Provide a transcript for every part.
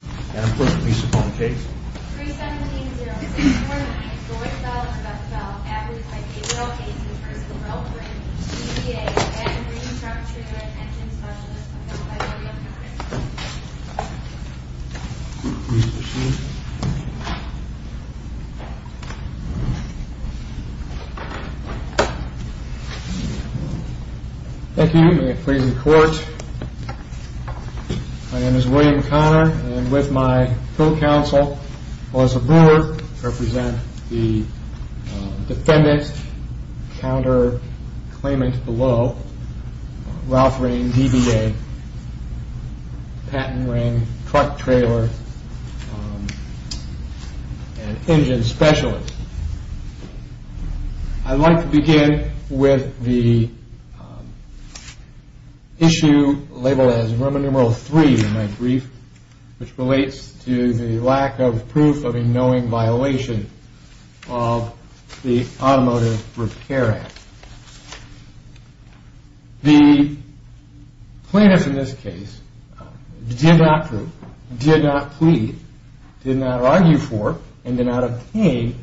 and I'm putting Lisa on the case. 3-17-0649, the white cell or black cell, averaged by age, role, age, and personal role, bring DBA and Reconstruction and Attention Specialists to the facility on the first floor. Lisa, please. Thank you. May I please report? My name is William Connor and with my full counsel, Melissa Brewer, represent the defendant, counter-claimant below, Ralph Ring, DBA, Patton Ring, truck trailer, and engine specialist. I'd like to begin with the issue labeled as Roman numeral 3 in my brief, which relates to the lack of proof of a knowing violation of the Automotive Repair Act. The plaintiff in this case did not prove, did not plead, did not argue for, and did not obtain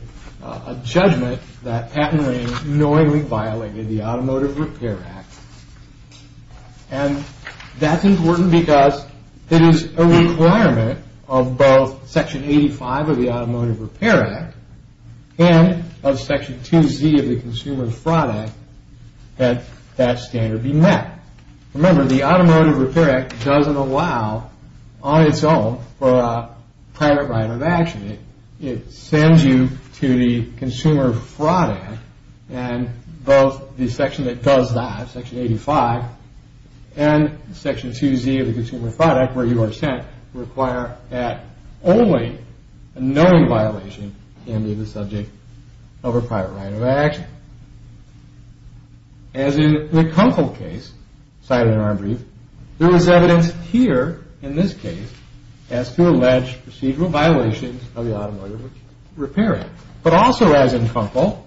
a judgment that Patton Ring knowingly violated the Automotive Repair Act. And that's important because it is a requirement of both Section 85 of the Automotive Repair Act and of Section 2Z of the Consumer Fraud Act that that standard be met. Remember, the Automotive Repair Act doesn't allow, on its own, for a private right of action. It sends you to the Consumer Fraud Act and both the section that does that, Section 85, and Section 2Z of the Consumer Fraud Act, where you are sent, require that only a knowing violation can be the subject of a private right of action. As in the Kunkel case cited in our brief, there is evidence here, in this case, as to alleged procedural violations of the Automotive Repair Act. But also as in Kunkel,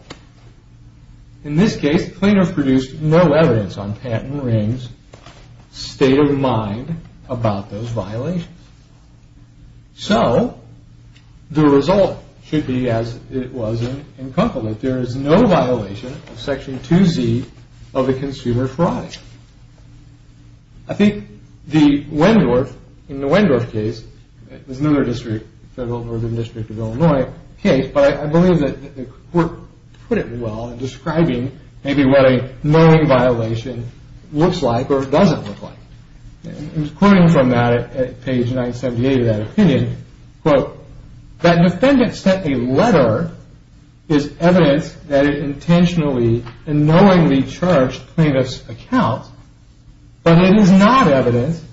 in this case, the plaintiff produced no evidence on Patton Ring's state of mind about those violations. So, the result should be as it was in Kunkel, that there is no violation of Section 2Z of the Consumer Fraud Act. I think the Wendorf, in the Wendorf case, it was another district, Federal Northern District of Illinois case, but I believe that the court put it well in describing maybe what a knowing violation looks like or doesn't look like. It was quoted from that at page 978 of that opinion, quote, that defendant sent a letter, is evidence that it intentionally and knowingly charged plaintiff's account, but it is not evidence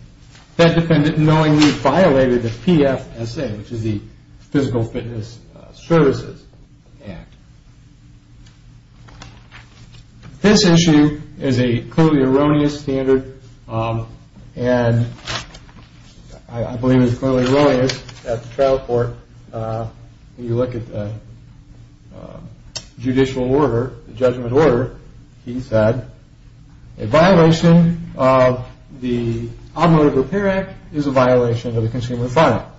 that defendant knowingly violated the PFSA, which is the Physical Fitness Services Act. This issue is a clearly erroneous standard, and I believe it is clearly erroneous at the trial court. When you look at the judicial order, the judgment order, he said, a violation of the Automotive Repair Act is a violation of the Consumer Fraud Act,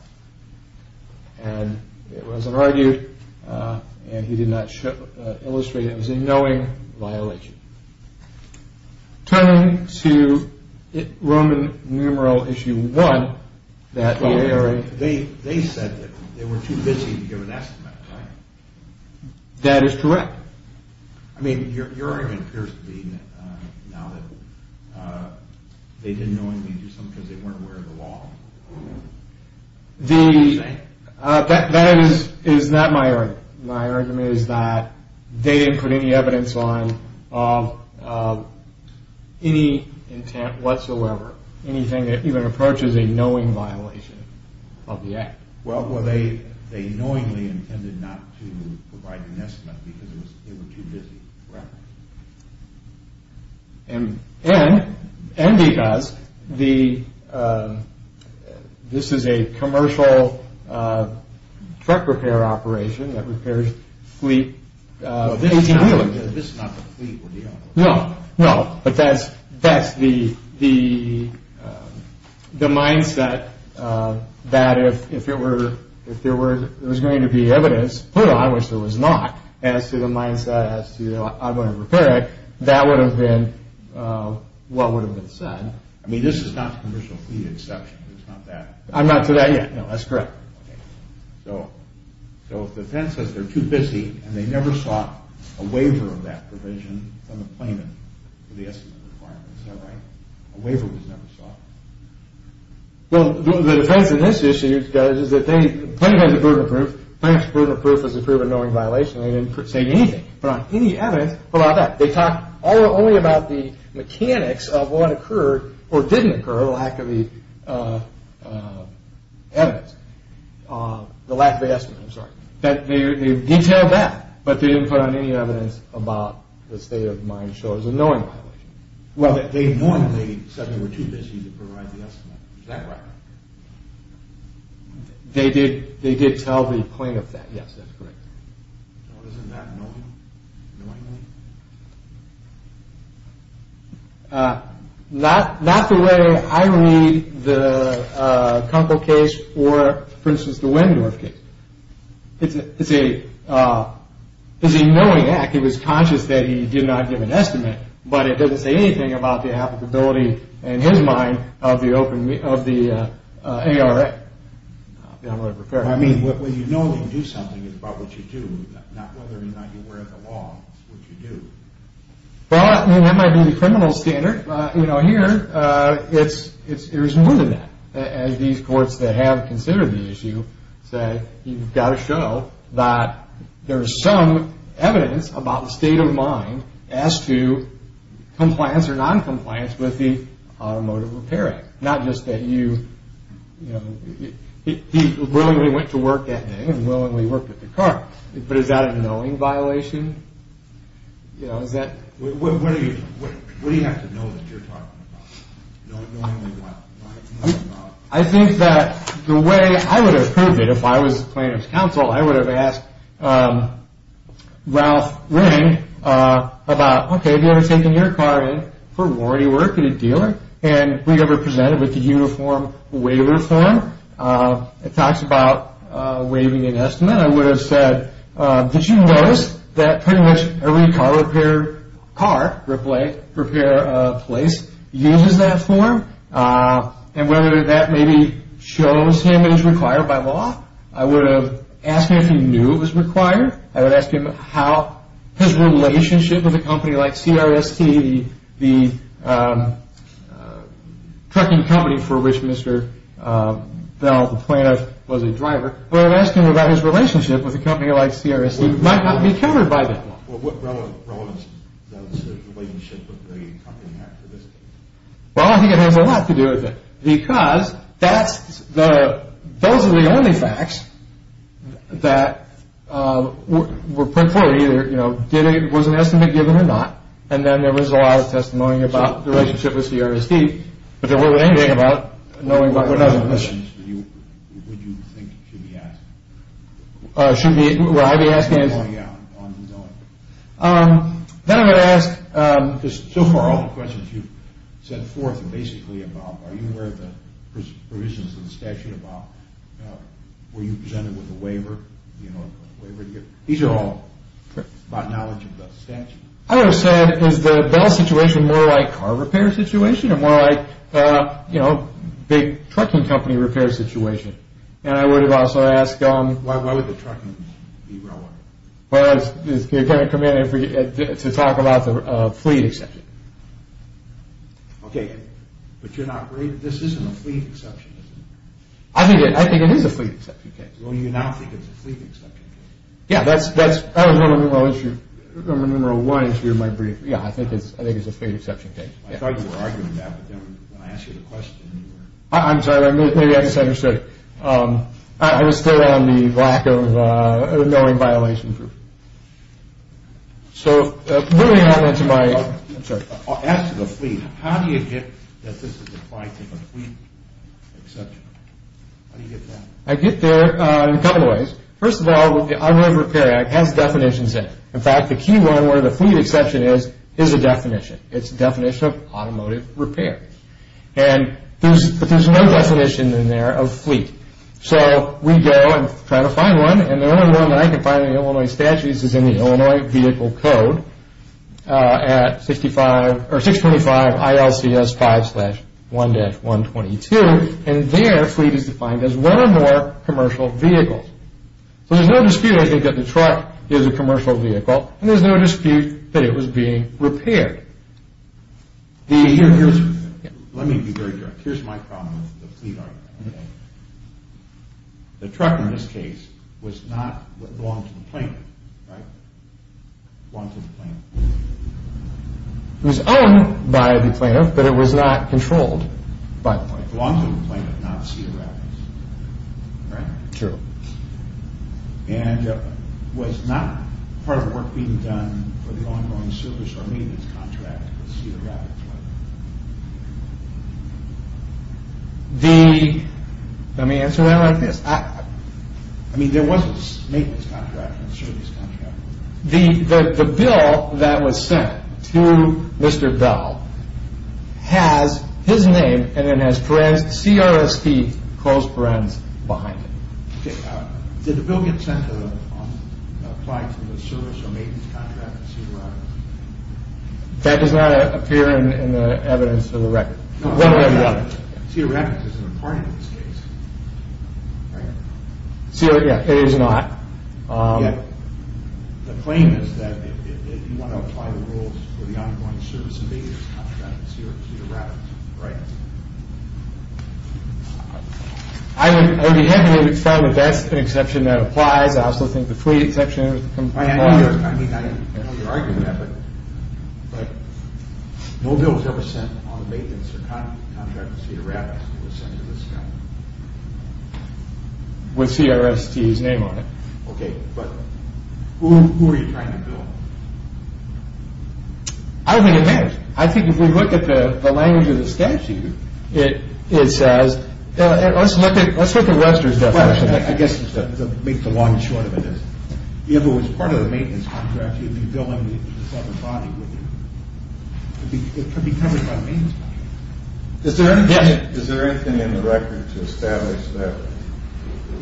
and it wasn't argued, and he did not illustrate it as a knowing violation. Turning to Roman numeral issue 1, they said that they were too busy to give an estimate, right? That is correct. I mean, your argument appears to be now that they didn't knowingly do something because they weren't aware of the law. That is not my argument. My argument is that they didn't put any evidence on any intent whatsoever, anything that even approaches a knowing violation of the act. Well, they knowingly intended not to provide an estimate because they were too busy. Correct. And because this is a commercial truck repair operation that repairs fleet 18 wheelers. This is not the fleet we're dealing with. No, but that's the mindset that if there was going to be evidence put on, which there was not, as to the mindset as to the Automotive Repair Act, that would have been what would have been said. I mean, this is not a commercial fleet exception. It's not that. I'm not to that yet. No, that's correct. So if the defense says they're too busy and they never sought a waiver of that provision from the plaintiff for the estimate requirement, is that right? A waiver was never sought. Well, the defense in this issue, guys, is that the plaintiff has a proven proof. The plaintiff's proven proof is a proven knowing violation. They didn't say anything, but on any evidence about that. They talked only about the mechanics of what occurred or didn't occur, or the lack of the evidence, the lack of the estimate, I'm sorry. They detailed that, but they didn't put on any evidence about the state of mind shows a knowing violation. Well, they normally said they were too busy to provide the estimate. Is that right? They did tell the plaintiff that. Yes, that's correct. So isn't that knowingly? Not the way I read the Kunkel case or, for instance, the Wendorf case. It's a knowing act. He was conscious that he did not give an estimate, but it doesn't say anything about the applicability in his mind of the ARA. I mean, when you know you do something, it's about what you do, not whether or not you wear the law, what you do. Well, I mean, that might be the criminal standard. Here, it's more than that. As these courts that have considered the issue say, you've got to show that there's some evidence about the state of mind as to compliance or noncompliance with the Automotive Repair Act. Not just that you, you know, he willingly went to work that day and willingly worked at the car. But is that a knowing violation? What do you have to know that you're talking about? I think that the way I would have proved it if I was plaintiff's counsel, I would have asked Ralph Ring about, OK, have you ever taken your car in for warranty work at a dealer? And we'd have represented with the uniform waiver form. It talks about waiving an estimate. Again, I would have said, did you notice that pretty much every car repair place uses that form? And whether that maybe shows him it is required by law? I would have asked him if he knew it was required. I would ask him how his relationship with a company like CRST, the trucking company for which Mr. Bell, the plaintiff, was a driver. I would have asked him about his relationship with a company like CRST. It might not be countered by that. What relevance does the relationship of the company have to this case? Well, I think it has a lot to do with it. Because that's the, those are the only facts that were put forward. Either, you know, did it, was an estimate given or not? And then there was a lot of testimony about the relationship with CRST. But there wasn't anything about knowing what was in the list. What other questions would you think should be asked? Should I be asking? Yeah, on knowing. Then I would ask. Because so far all the questions you've sent forth are basically about, are you aware of the provisions of the statute about, were you presented with a waiver? These are all about knowledge of the statute. I would have said, is the Bell situation more like a car repair situation? Or more like, you know, big trucking company repair situation? And I would have also asked. Why would the trucking be railroad? Well, it's going to come in to talk about the fleet exception. Okay. But you're not, this isn't a fleet exception, is it? I think it is a fleet exception case. Well, you now think it's a fleet exception case. Yeah, that's, that was number one issue in my brief. Yeah, I think it's a fleet exception case. I thought you were arguing that, but then when I asked you the question, you were. I'm sorry, maybe I misunderstood. I was still on the lack of knowing violation group. So, moving on to my, I'm sorry. As to the fleet, how do you get that this is applied to a fleet exception? How do you get that? I get there in a couple of ways. First of all, I'm aware the Repair Act has definitions in it. In fact, the key one where the fleet exception is, is a definition. It's a definition of automotive repair. And, there's, but there's no definition in there of fleet. So, we go and try to find one, and the only one that I can find in the Illinois Statutes is in the Illinois Vehicle Code at 65, or 625 ILCS 5 slash 1-122. And there, fleet is defined as one or more commercial vehicles. So, there's no dispute I think that the truck is a commercial vehicle, and there's no dispute that it was being repaired. Here's, let me be very direct. Here's my problem with the fleet argument. The truck in this case, was not, belonged to the plaintiff, right? Belonged to the plaintiff. It was owned by the plaintiff, but it was not controlled by the plaintiff. It belonged to the plaintiff, not Cedar Rapids. Right? True. And, was not part of the work being done, for the ongoing service or maintenance contract with Cedar Rapids? The, let me answer that like this. I, I mean, there was a maintenance contract and a service contract. The, the bill that was sent to Mr. Bell, has his name, and it has Perens, CRSP, close Perens, behind it. Okay. Did the bill get sent to the, apply to the service or maintenance contract with Cedar Rapids? That does not appear in the evidence of the record. No. Cedar Rapids isn't a part of this case. Right? Cedar, yeah, it is not. Yeah. The claim is that, if you want to apply the rules, for the ongoing service and maintenance contract with Cedar Rapids, right? I would, I would be happy if it's found that that's an exception that applies. I also think the fleet exception, I mean, I know you're arguing that, but, but, no bill was ever sent on the maintenance or contract with Cedar Rapids that was sent to this guy. With CRSP's name on it. Okay, but, who, who are you trying to bill? I don't think it matters. I think if we look at the, the language of the statute, it, it says, let's look at, let's look at Lester's definition. I guess, to make the long and short of it is, if it was part of the maintenance contract, you'd be billing the separate body, wouldn't you? It could be covered by the maintenance body. Is there anything, is there anything in the record to establish that,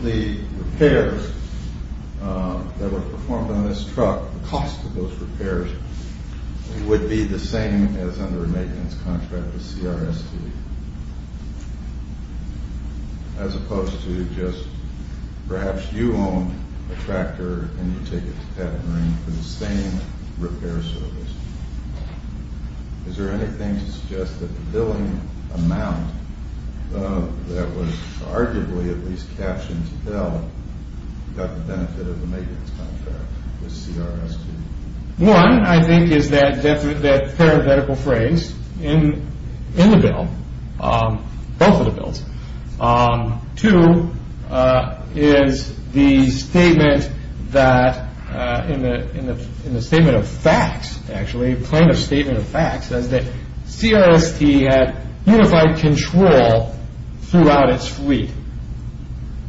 the repairs, that were performed on this truck, the cost of those repairs, would be the same as under a maintenance contract with CRSP? As opposed to just, perhaps you own a tractor, and you take it to Catering for the same repair service. Is there anything to suggest that the billing amount, that was arguably, at least captions L, got the benefit of the maintenance contract with CRSP? One, I think is that parabetical phrase, in, in the bill, both of the bills. Two, is the statement that, in the statement of facts, actually, plaintiff's statement of facts, says that CRSP had unified control throughout its fleet.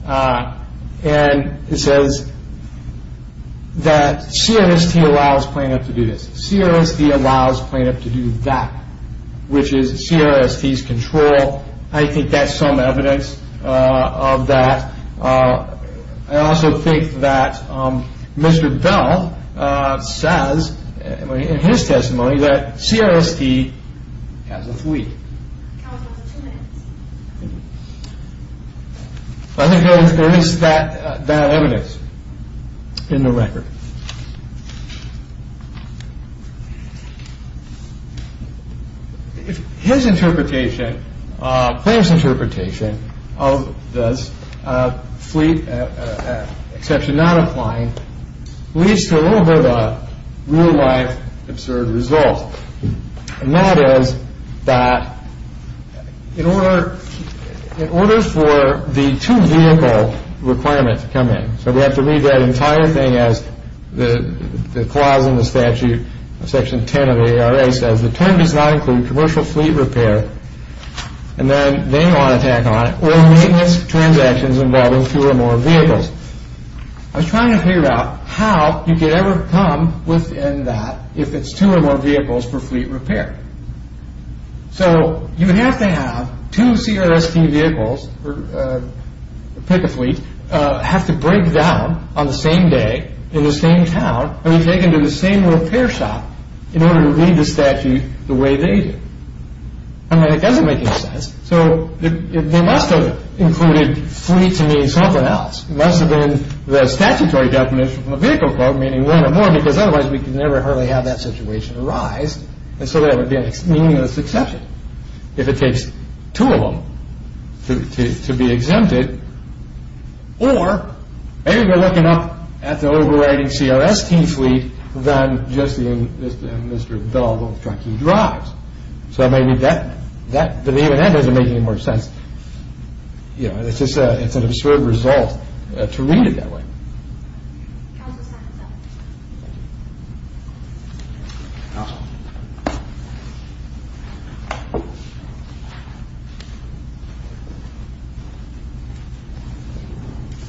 And it says, that CRSP allows plaintiff to do this, CRSP allows plaintiff to do that, which is CRSP's control. I think that's some evidence of that. I also think that, Mr. Bell says, in his testimony, that CRSP has a fleet. I think there is that evidence in the record. His interpretation, plaintiff's interpretation, of this fleet exception not applying, leads to a little bit of a real life absurd result. And that is, that in order, in order for the two vehicle requirements to come in, so we have to read that entire thing as, the clause in the statute, section 10 of the ARA says, the term does not include commercial fleet repair, and then they want to tack on it, or maintenance transactions involving two or more vehicles. I was trying to figure out, how you could ever come within that, if it's two or more vehicles for fleet repair. So, you would have to have, two CRSP vehicles, pick a fleet, have to break down, on the same day, in the same town, and be taken to the same repair shop, in order to read the statute, the way they do. I mean, it doesn't make any sense. So, they must have included, fleet to mean something else. It must have been, the statutory definition of a vehicle quote, meaning one or more, because otherwise, we could never hardly have that situation arise. And so that would be a meaningless exception. If it takes two of them, to be exempted, or, maybe we're looking up, at the overriding CRSP fleet, than just the, Mr. Bell's old truck he drives. So maybe that, the name of that doesn't make any more sense. It's just an absurd result, to read it that way.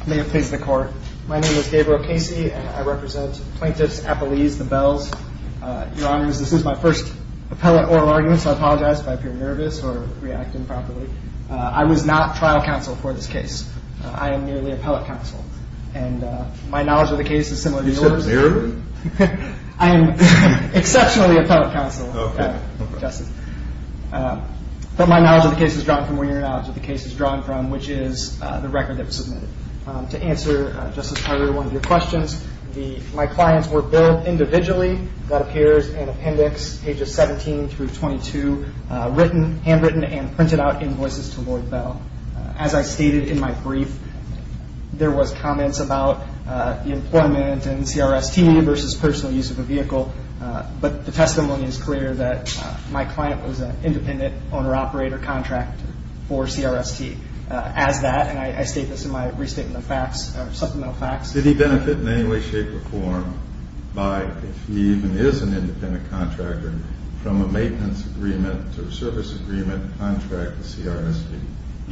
May it please the court. My name is Gabriel Casey, and I represent, plaintiffs, appellees, the Bells. Your honors, this is my first, appellate oral argument, so I apologize, if I appear nervous, or react improperly. I was not trial counsel, for this case. I am merely, appellate counsel. And, my knowledge of the case, is similar to yours. You said zero? I am, exceptionally, appellate counsel. Okay. Okay. But my knowledge of the case, is drawn from where your knowledge, of the case is drawn from, which is, the record that was submitted. To answer, Justice Harreld, one of your questions, my clients were billed, individually, that appears, in appendix, pages 17 through 22, written, handwritten, and printed out, invoices to Lord Bell. As I stated, in my brief, there was comments about, the employment, and CRST, versus personal use, of a vehicle. But, the testimony is clear, that my client, was an independent, owner operator, contractor, for CRST. As that, and I state this, in my restatement of facts, supplemental facts. Did he benefit, in any way, shape, or form, by, if he even, is an independent, contractor, from a maintenance agreement, or service agreement, contract with CRST?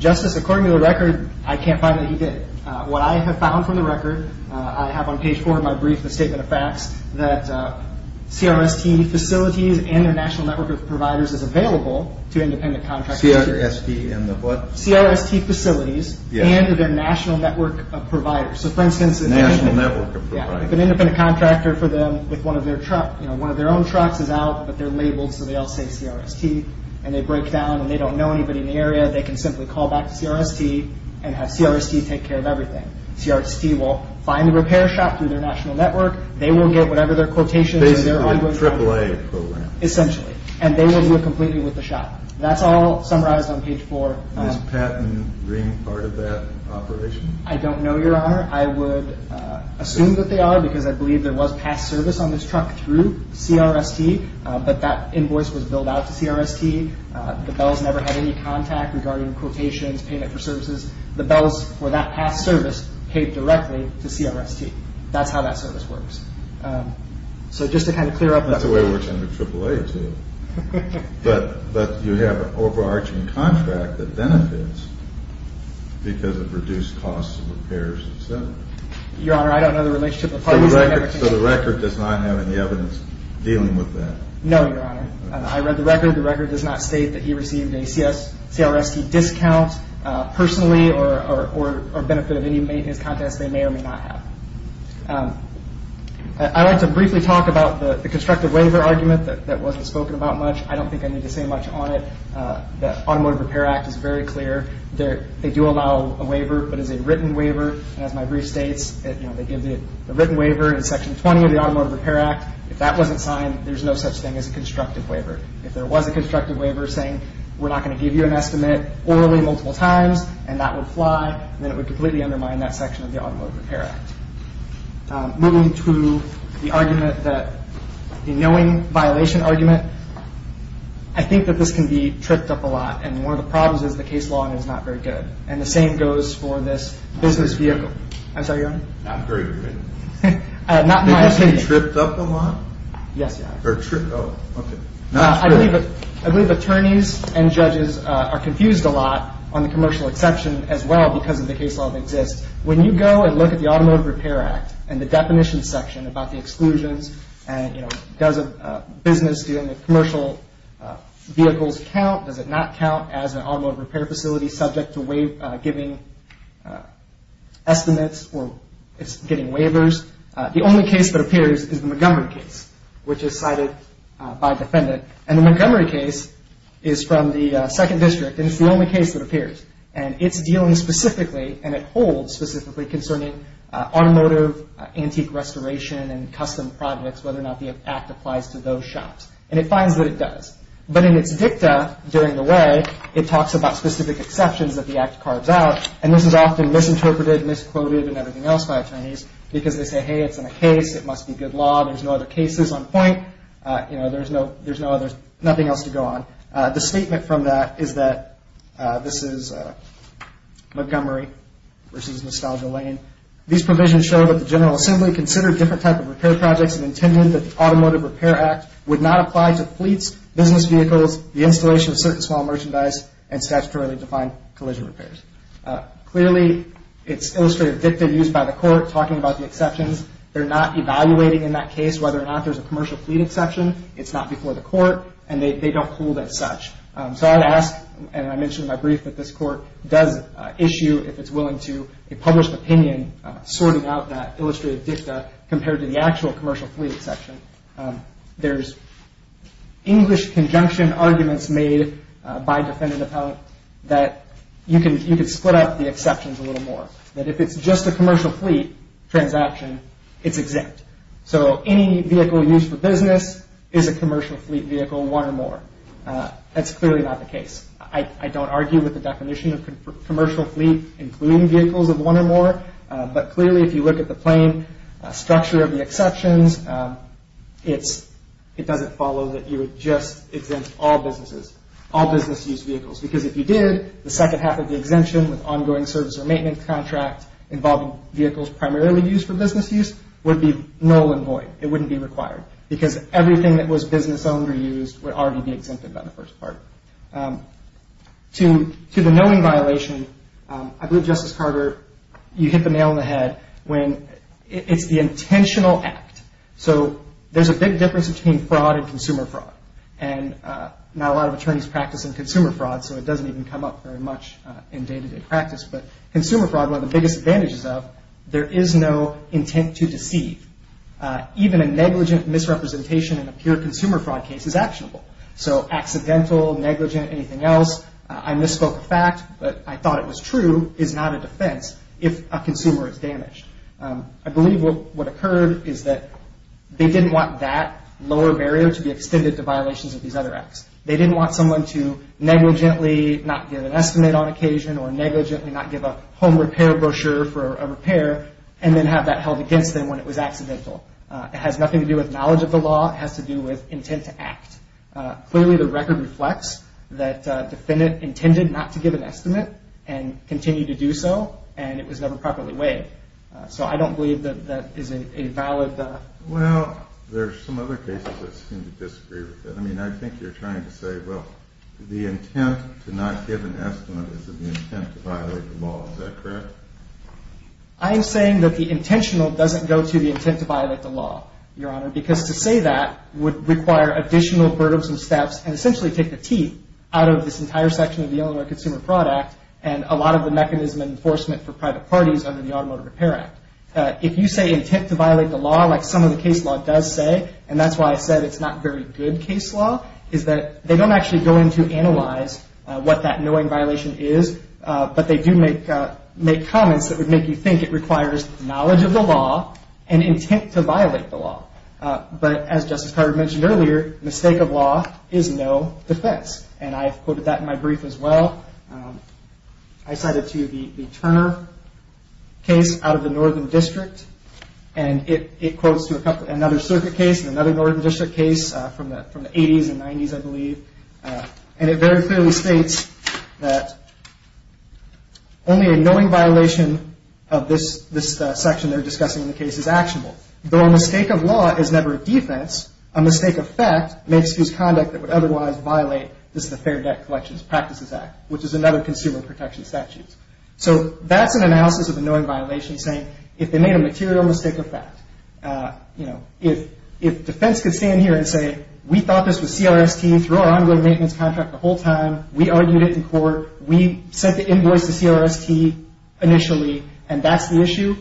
Justice, according to the record, I can't find that he did. What I have found, from the record, I have on page four, in my brief, the statement of facts, that CRST facilities, and their national network, of providers, is available, to independent contractors. CRST, CRST, and the what? CRST facilities, and their national network, of providers. So for instance, National network of providers. Yeah, if an independent contractor, for them, with one of their truck, you know, one of their own trucks, is out, but they're labeled, so they all say CRST, and they break down, and they don't know anybody, in the area, they can simply call back, to CRST, and have CRST take care, of everything. CRST will find the repair shop, through their national network, they will get whatever, their quotations, Basically, the AAA program. Essentially, and they will do it, completely, with the shop. That's all summarized, on page four. Does patent ring, part of that operation? I don't know, your honor. I would assume, that they are, because I believe, there was past service, on this truck, through CRST, but that invoice, was billed out to CRST, the bells never had, regarding quotations, payment for services, the bells, for that past service, paid directly, to CRST. That's how, that service works. So just to kind of, clear up that for you. That's the way it works, under AAA too. But you have, an overarching contract, that benefits, because of reduced costs, and repairs, et cetera. Your honor, I don't know the relationship, So the record, does not have any evidence, dealing with that? No, your honor. I read the record, the record does not state, that he received, a CRST discount, personally, or benefit, of any maintenance contest, they may, or may not have. I'd like to briefly, talk about, the constraints, that wasn't spoken about much. I don't think, I need to say much on it. The Automotive Repair Act, is very clear. There, they do allow, a waiver, but as a written waiver, and as my brief states, you know, they give the written waiver, in section 20, of the Automotive Repair Act. If that wasn't signed, there's no such thing, as a constructive waiver. If there was a constructive waiver, saying, we're not going to give you, an estimate, orally multiple times, and that would fly, then it would completely undermine, that section of the, Automotive Repair Act. Moving to, the argument that, the knowing, violation argument. I think, that this can be, tripped up a lot, and one of the problems, is the case law, is not very good. And the same goes, for this business vehicle. I'm sorry, your honor. Not very good. Not my opinion. Did you say, tripped up a lot? Yes, your honor. Oh, okay. I believe attorneys, and judges, are confused a lot, on the commercial exception, as well, because of the case law, that exists. When you go, and look at the, commercial exclusions, and you know, does a business, doing a commercial, vehicles count, does it not count, as an automotive, repair facility, subject to waive, giving, estimates, or, it's getting waivers. The only case, that appears, is the Montgomery case, which is cited, by defendant. And the Montgomery case, is from the second district, and it's the only case, that appears. And it's dealing, specifically, and it holds, specifically, concerning, automotive, antique restoration, and custom projects, whether or not, the act applies, to those shops. And it finds, that it does. But in it's dicta, during the way, it talks about, specific exceptions, that the act carves out. And this is often, misinterpreted, misquoted, and everything else, by attorneys, because they say, hey, it's in a case, it must be good law, there's no other cases, on point, you know, there's no, there's nothing else, to go on. The statement from that, is that, this is Montgomery, versus, Nostalgia Lane. These provisions show, that the General Assembly, considered different type, of repair projects, and intended, that the Automotive Repair Act, would not apply, to fleets, business vehicles, the installation, of certain small merchandise, and statutorily defined, collision repairs. Clearly, it's illustrative dicta, used by the court, talking about the exceptions, they're not evaluating, in that case, whether or not, there's a commercial, fleet exception, it's not before the court, and they don't hold, as such. So I'd ask, and I mentioned in my brief, that this court, does issue, if it's willing to, a published opinion, sorting out that, illustrative dicta, compared to the actual, commercial fleet exception. There's, English conjunction, arguments made, by defendant appellate, that you can, split up the exceptions, a little more. That if it's just, a commercial fleet, transaction, it's exempt. So, any vehicle, used for business, is a commercial fleet vehicle, one or more. That's clearly, not the case. I don't argue, with the general assembly, with the definition of, commercial fleet, including vehicles, of one or more. But clearly, if you look at the plain, structure of the exceptions, it's, it doesn't follow, that you would just, exempt all businesses, all business use vehicles. Because if you did, the second half, of the exemption, with ongoing service, or maintenance contract, involving vehicles, primarily used for business use, would be null and void. It wouldn't be required. Because everything, that was business owned, or used, would already be exempted, by the first part. To, to the knowing violation, I believe Justice Carter, you hit the nail, on the head, when, it's the intentional act. So, there's a big difference, between fraud, and consumer fraud. And, not a lot of attorneys, practice in consumer fraud, so it doesn't even come up, very much, in day to day practice. But, consumer fraud, one of the biggest advantages of, there is no, intent to deceive. Even a negligent, misrepresentation, in a pure consumer fraud case, is actionable. So, accidental, negligent, anything else, I misspoke a fact, but, I thought it was true, is not a defense, if a consumer is damaged. I believe, what, what occurred, is that, they didn't want that, lower barrier, to be extended to violations, of these other acts. They didn't want someone to, negligently, not give an estimate, on occasion, or negligently, not give a, home repair brochure, for a repair, and then have that held against them, when it was accidental. It has nothing to do with, knowledge of the law, it has to do with, intent to act. Clearly, the record reflects, that defendant, intended, not to give an estimate, and, continued to do so, and it was never, properly weighed. So, I don't believe that, that is a valid, well, there's some other cases, that seem to disagree with it. I mean, I think you're trying to say, well, the intent, to not give an estimate, is the intent, to violate the law, is that correct? I am saying, that the intentional, doesn't go to the intent, to violate the law, your honor, because to say that, would require additional, burdens and steps, and essentially, take the teeth, out of this entire section, of the Illinois Consumer Fraud Act, and a lot of the mechanism, and enforcement, for private parties, under the Automotive Repair Act. If you say, intent to violate the law, like some of the case law, does say, and that's why I said, it's not very good case law, is that, they don't actually go in, to analyze, what that knowing violation is, but they do make, make comments, that would make you think, it requires knowledge of the law, and intent to violate the law. But, as Justice Carver mentioned earlier, mistake of law, is no defense, and I've quoted that, in my brief as well. I cited to you, the Turner case, out of the Northern District, and it quotes, to another circuit case, and another Northern District case, from the 80's and 90's, I believe, and it very clearly states, that only a knowing violation, of this section, they're discussing in the case, is actionable. Though a mistake of law, is never a defense, a mistake of fact, may excuse conduct, that would otherwise violate, this is the Fair Debt Collections Practices Act, which is another consumer protection statute. So, that's an analysis of a knowing violation, saying, if they made a material mistake of fact, you know, if, if defense could stand here and say, we thought this was CRST, through our ongoing maintenance contract, the whole time, we argued it in court, we sent the invoice to CRST, initially, and that's the issue,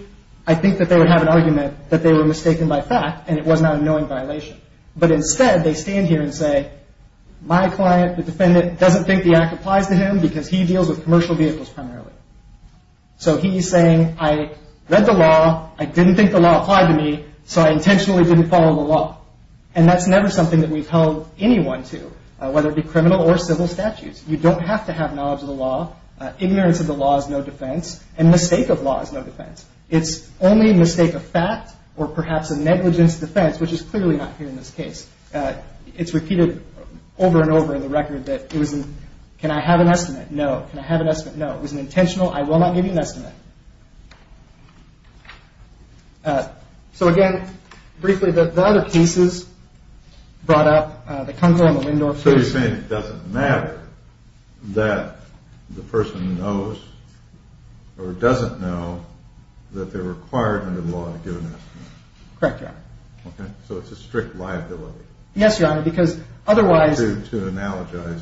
I think that they would have an argument, that they were mistaken by fact, and it was not a knowing violation. But instead, they stand here and say, my client, the defendant, doesn't think the act applies to him, because he deals with commercial vehicles, primarily. So, he's saying, I read the law, I didn't think the law applied to me, so I intentionally didn't follow the law. And that's never something that we've held anyone to, whether it be criminal or civil statutes. You don't have to have knowledge of the law, ignorance of the law is no defense, and mistake of law is no defense. It's only a mistake of fact, or perhaps a negligence of defense, which is clearly not here in this case. It's repeated over and over in the record, that it wasn't, can I have an estimate? No. Can I have an estimate? No. It was an intentional, I will not give you an estimate. So, again, briefly, the other cases, brought up, that comes around the window. So, you're saying it doesn't matter, that the person knows, or doesn't know, that they're required under the law to give an estimate. Correct, Your Honor. Okay. So, it's a strict liability. Yes, Your Honor, because, otherwise, To analogize.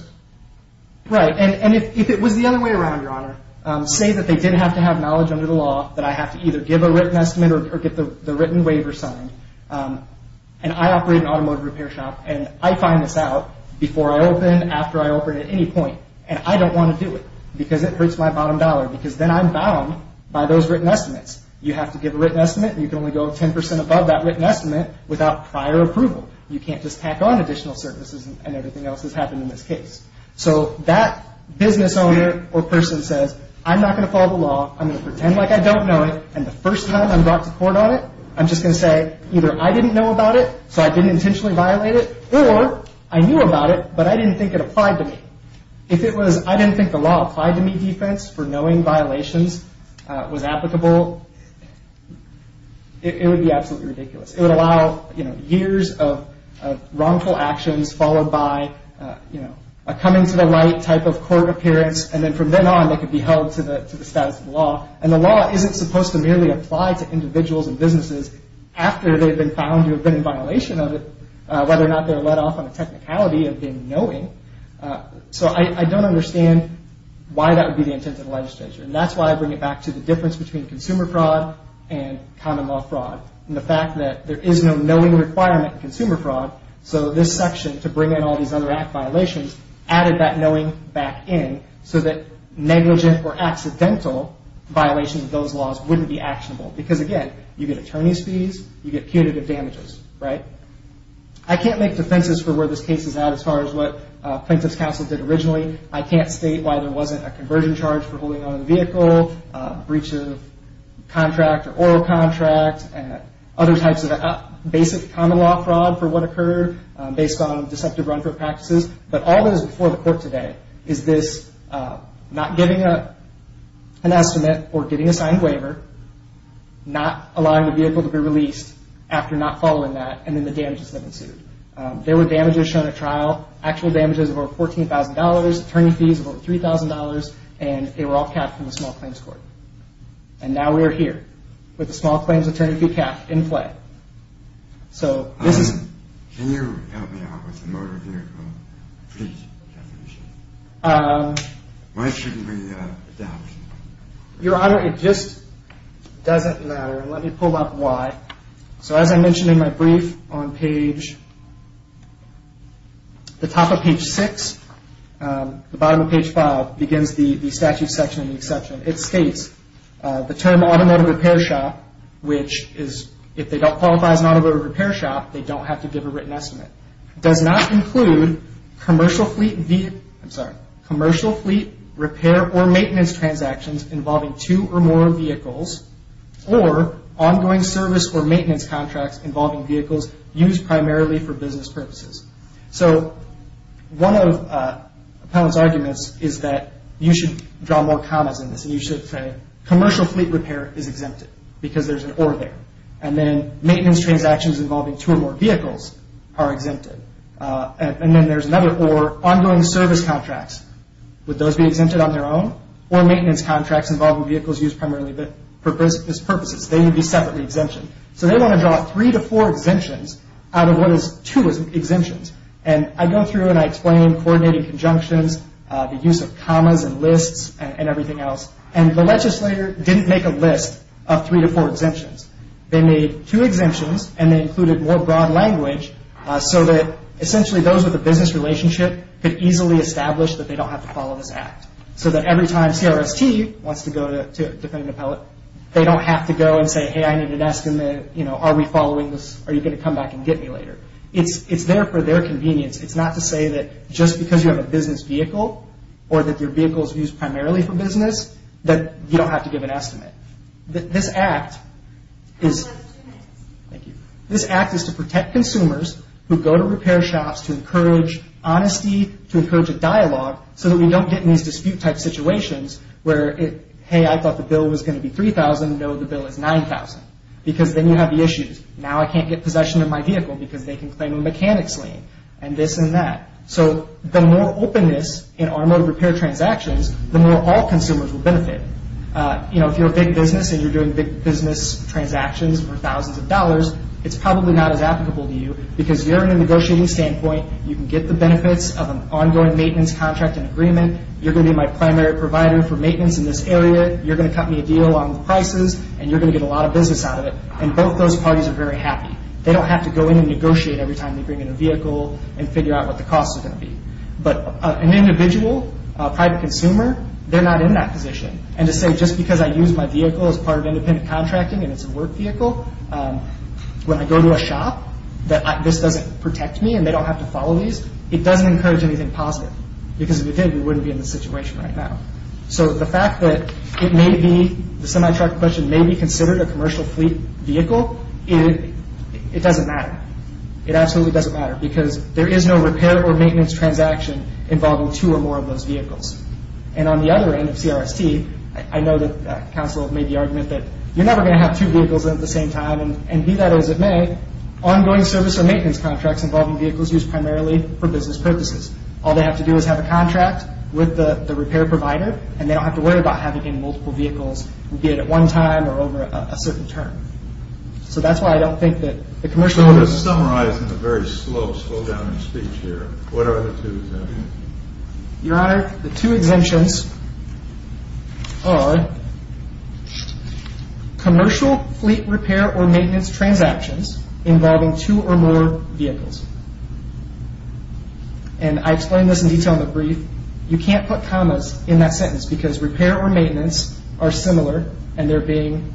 Right, and if it was the other way around, Your Honor, say that they didn't have to have knowledge under the law, that I have to either give a written estimate, or get the written waiver signed, and I operate an automotive repair shop, and I find this out, before I open, after I open, at any point, and I don't want to do it, because it hurts my bottom dollar, because then I'm bound by those written estimates. You have to give a written estimate, and you can only go 10% above that written estimate, without prior approval. You can't just tack on additional services, and everything else that's happened in this case. So, that business owner, or person, says, I'm not going to follow the law, I'm going to pretend like I don't know it, and the first time I'm brought to court on it, I'm just going to say, either I didn't know about it, so I didn't intentionally violate it, or, I knew about it, but I didn't think it applied to me. If it was, I didn't think the law applied to me defense, for knowing violations, was applicable, it would be absolutely ridiculous. It would allow, you know, years of wrongful actions, followed by, you know, a coming to the light type of court appearance, and then from then on, they could be held to the status of the law, and the law isn't supposed to merely apply to individuals and businesses, after they've been found to have been in violation of it, whether or not they're let off on the technicality of being knowing. So, I don't understand why that would be the intent of the legislature, and that's why I bring it back to the difference between consumer fraud and common law fraud. And the fact that there is no knowing requirement in consumer fraud, so this section, to bring in all these other act violations, added that knowing back in, so that negligent or accidental violations of those laws wouldn't be actionable. Because again, you get attorney's fees, you get punitive damages, right? I can't make defenses for where this case is at, as far as what plaintiff's counsel did originally. I can't state why there wasn't a conversion charge for holding onto the vehicle, breach of contract, or oral contract, and other types of basic common law fraud for what occurred, based on deceptive run for practices. But all that is before the court today is this not giving an estimate or getting a signed waiver, not allowing the vehicle to be released after not following that, There were damages shown at trial, actual damages of over $14,000, attorney fees of over $3,000, and they were all capped from the Small Claims Court. And now we are here, with the Small Claims Attorney fee capped, in play. So, this is... Can you help me out with the motor vehicle breach definition? Um... Why shouldn't we adapt? Your Honor, it just doesn't matter. Let me pull up why. So as I mentioned in my brief, on page... the top of page 6, the bottom of page 5, begins the statute section and the exception. It states, the term automotive repair shop, which is, if they don't qualify as an automotive repair shop, they don't have to give a written estimate, does not include commercial fleet... I'm sorry. Commercial fleet repair or maintenance transactions involving two or more vehicles, or ongoing service or maintenance contracts involving vehicles used primarily for business purposes. So, one of the... You should draw more commas in this. You should say, commercial fleet repair is exempted. Because there's an or there. And then, maintenance transactions involving two or more vehicles are exempted. And then there's another or, ongoing service contracts. Would those be exempted on their own? Or maintenance contracts involving vehicles used primarily for business purposes. They would be separately exempted. So they want to draw three to four exemptions out of what is two exemptions. And I go through and I explain coordinating conjunctions, the use of commas and lists and everything else. And the legislator didn't make a list of three to four exemptions. They made two exemptions, and they included more broad language so that, essentially, those with a business relationship could easily establish that they don't have to follow this act. So that every time CRST wants to go to a defendant appellate, they don't have to go and say, hey, I need a desk in the... you know, are we following this? Are you going to come back and get me later? It's there for their convenience. It's not to say that just because you have a business vehicle or that your vehicle is used primarily for business, that you don't have to give an estimate. This act is... Thank you. This act is to protect consumers who go to repair shops to encourage honesty, to encourage a dialogue, so that we don't get in these dispute-type situations where, hey, I thought the bill was going to be $3,000. No, the bill is $9,000. Because then you have the issues. Now I can't get possession of my vehicle because they can claim a mechanics lien and this and that. So the more openness in automotive repair transactions, the more all consumers will benefit. You know, if you're a big business and you're doing big business transactions for thousands of dollars, it's probably not as applicable to you because you're in a negotiating standpoint. You can get the benefits of an ongoing maintenance contract and agreement. You're going to be my primary provider for maintenance in this area. You're going to cut me a deal on the prices and you're going to get a lot of business out of it. And both those parties are very happy. They don't have to go in and negotiate every time they bring in a vehicle and figure out what the cost is going to be. But an individual, a private consumer, they're not in that position. And to say just because I use my vehicle as part of independent contracting and it's a work vehicle, when I go to a shop, that this doesn't protect me and they don't have to follow these, it doesn't encourage anything positive. Because if it did, we wouldn't be in this situation right now. So the fact that it may be, the semi-truck question, may be considered a commercial fleet vehicle, it doesn't matter. It absolutely doesn't matter because there is no repair or maintenance transaction involving two or more of those vehicles. And on the other end of CRST, I know that Council made the argument that you're never going to have two vehicles in at the same time. And be that as it may, ongoing service or maintenance contracts involving vehicles used primarily for business purposes. All they have to do is have a contract with the repair provider and they don't have to worry about having multiple vehicles, be it at one time or over a certain term. So that's why I don't think that the commercial... I'm just summarizing the very slow, slow down in speech here. What are the two exemptions? Your Honor, the two exemptions are commercial fleet repair or maintenance transactions involving two or more vehicles. And I explained this in detail in the brief. You can't put commas in that sentence because repair or maintenance are similar and they're being,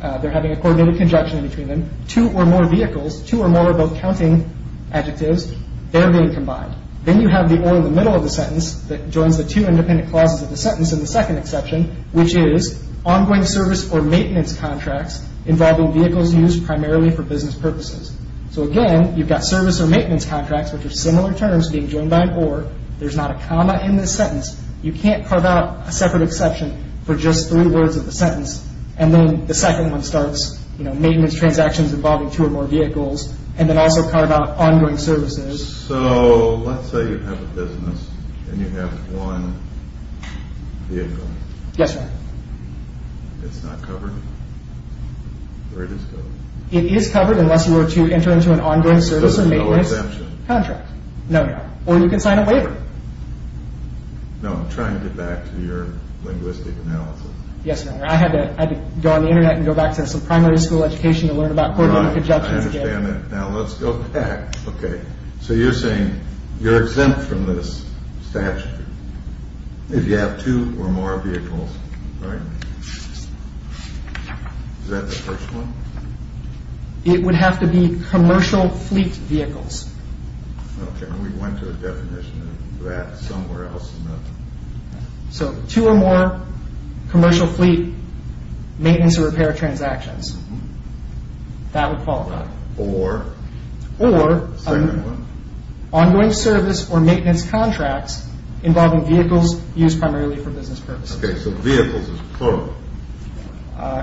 they're having a coordinated conjunction in between them. Two or more vehicles, two or more of those counting adjectives, they're being combined. Then you have the or in the middle of the sentence that joins the two independent clauses of the sentence in the second exception, which is ongoing service or maintenance contracts involving vehicles used primarily for business purposes. So again, you've got service or maintenance contracts, which are similar terms, being joined by an or. There's not a comma in this sentence. You can't carve out a separate exception for just three words of the sentence. And then the second one starts, you know, maintenance transactions involving two or more vehicles and then also carve out ongoing services. So let's say you have a business and you have one vehicle. Yes, ma'am. It's not covered? Or it is covered? unless you were to enter into an ongoing service or maintenance contract. So there's no exemption? No, no. Or you can sign a waiver. No, I'm trying to get back to your linguistic analysis. Yes, ma'am. I had to go on the internet and go back to some primary school education to learn about coordinate conjectures again. I understand that. Now, let's go back. Okay. So you're saying you're exempt from this statute if you have two or more vehicles, right? Is that the first one? It would have to be commercial fleet vehicles. Okay. We went to a definition of that somewhere else. So two or more commercial fleet maintenance or repair transactions. That would fall under. Or? Or... Second one? Ongoing service or maintenance contracts involving vehicles used primarily for business purposes. Okay, so vehicles is plural.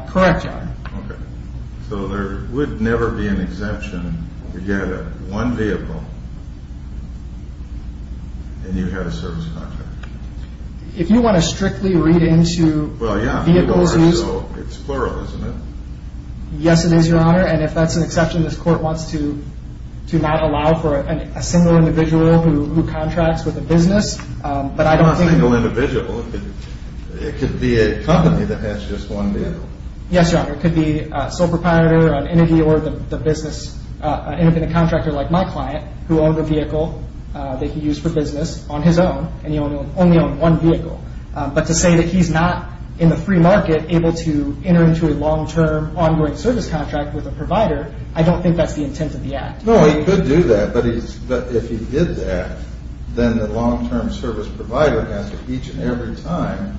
Correct, Your Honor. Okay. So there would never be an exemption to get one vehicle and you have a service contract. If you want to strictly read into vehicles used... Well, yeah, it's plural, isn't it? Yes, it is, Your Honor. And if that's an exception, this court wants to not allow for a single individual who contracts with a business. But I don't think... Not a single individual. It could be a company that has just one vehicle. Yes, Your Honor. It could be a sole proprietor, an entity or the business, an independent contractor like my client who owned a vehicle that he used for business on his own and he only owned one vehicle. But to say that he's not, in the free market, able to enter into a long-term ongoing service contract with a provider, I don't think that's the intent of the Act. No, he could do that, but if he did that, then the long-term service provider has to each and every time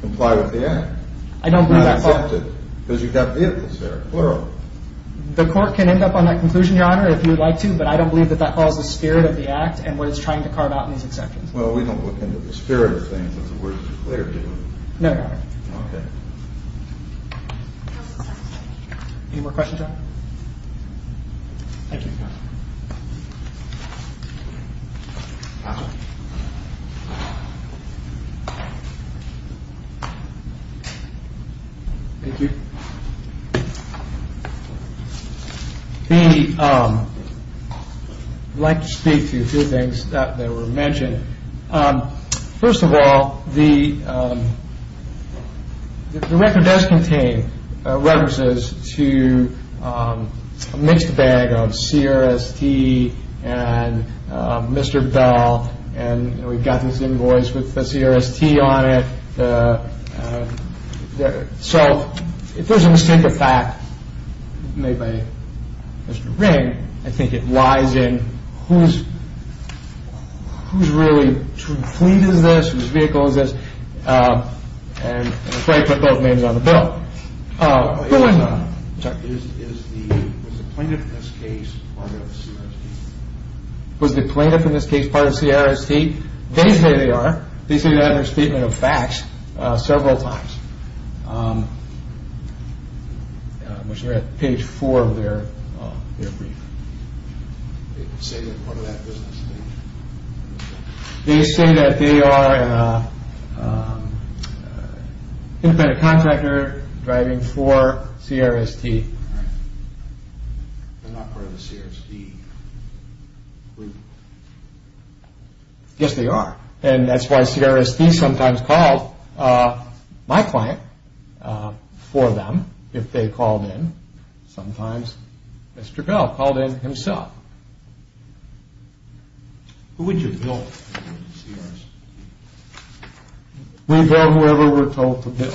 comply with the Act. I don't believe that... Not exempt it, because you've got vehicles there, plural. The court can end up on that conclusion, Your Honor, if you'd like to, but I don't believe that that follows the spirit of the Act and what it's trying to carve out in these exceptions. Well, we don't look into the spirit of things. That's what we're declared to do. No, Your Honor. Okay. Any more questions, Your Honor? Thank you, Your Honor. Thank you. I'd like to speak to a few things that were mentioned. First of all, the record does contain references to a mixed bag of CRST and Mr. Bell, and we've got this invoice with the CRST on it. So, if there's a mistake of fact made by Mr. Ring, I think it lies in whose really fleet is this, whose vehicle is this, and I'm afraid I put both names on the bill. Was the plaintiff in this case part of CRST? Was the plaintiff in this case part of CRST? They say they are. They say they had their statement of facts several times, which are at page four of their brief. They say they're part of that business? They say that they are an independent contractor driving for CRST. They're not part of the CRST fleet? Yes, they are, and that's why CRST sometimes called my client for them if they called in. Sometimes Mr. Bell called in himself. Who would you bill for CRST? We bill whoever we're told to bill.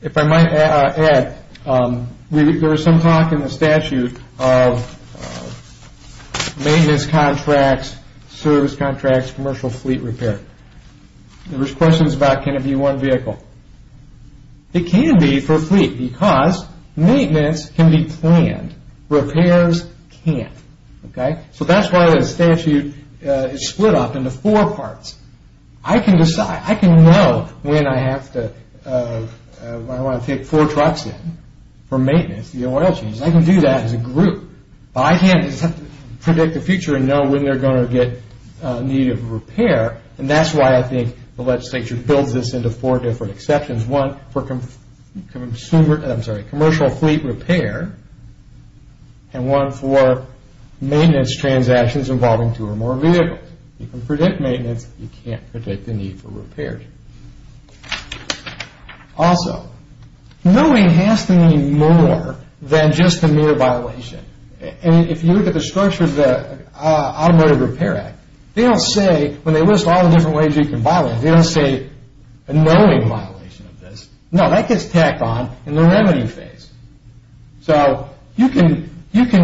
If I might add, there was some talk in the statute of maintenance contracts, service contracts, commercial fleet repair. There was questions about can it be one vehicle? It can be for fleet because maintenance can be planned. Repairs can't. So, that's why the statute is split up into four parts. I can decide. I can know when I want to take four trucks in for maintenance, the oil changes. I can do that as a group, but I can't. I just have to predict the future and know when they're going to get a need of repair, and that's why I think the legislature builds this into four different exceptions. One for commercial fleet repair, and one for maintenance transactions involving two or more vehicles. You can predict maintenance. You can't predict the need for repairs. Also, knowing has to mean more than just a mere violation. If you look at the structure of the Automotive Repair Act, they don't say, when they list all the different ways you can violate it, they don't say a knowing violation of this. No, that gets tacked on in the remedy phase. So, you can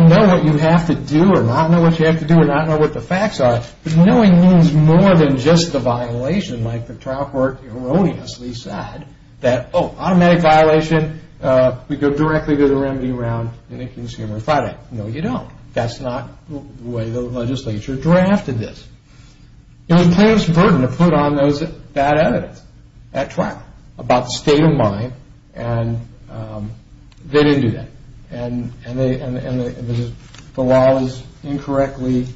know what you have to do or not know what you have to do or not know what the facts are, but knowing means more than just the violation, like the trial court erroneously said, that, oh, automatic violation, we go directly to the remedy round in a consumer Friday. No, you don't. That's not the way the legislature drafted this. It was a tremendous burden to put on those bad evidence at trial about the state of mind, and they didn't do that, and the law was incorrectly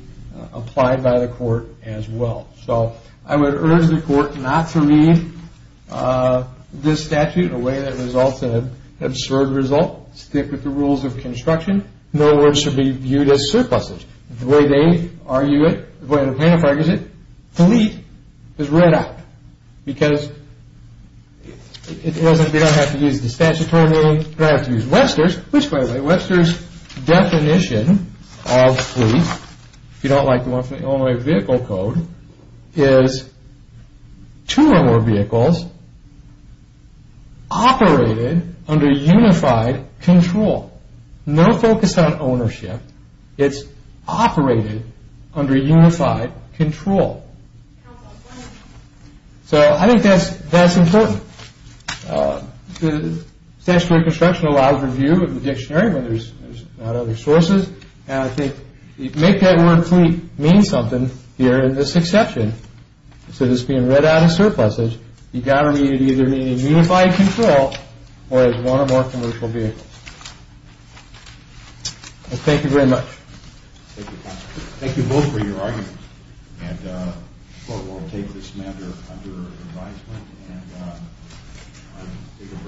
applied by the court as well. So, I would urge the court not to read this statute in a way that results in an absurd result. Stick with the rules of construction. No words should be viewed as surpluses. The way they argue it, the way the plaintiff argues it, delete is read out, because they don't have to use the statutory meaning, but they have to use Webster's, which, by the way, Webster's definition of fleet, if you don't like the one from the Illinois Vehicle Code, is two or more vehicles operated under unified control. No focus on ownership. It's operated under unified control. So, I think that's important. Statutory construction allows review of the dictionary when there's not other sources, and I think make that word fleet mean something here in this exception. Instead of this being read out as surpluses, you've got to either mean unified control or as one or more commercial vehicles. Thank you very much. Thank you both for your arguments, and the court will take this matter under advisement, and we can work toward it.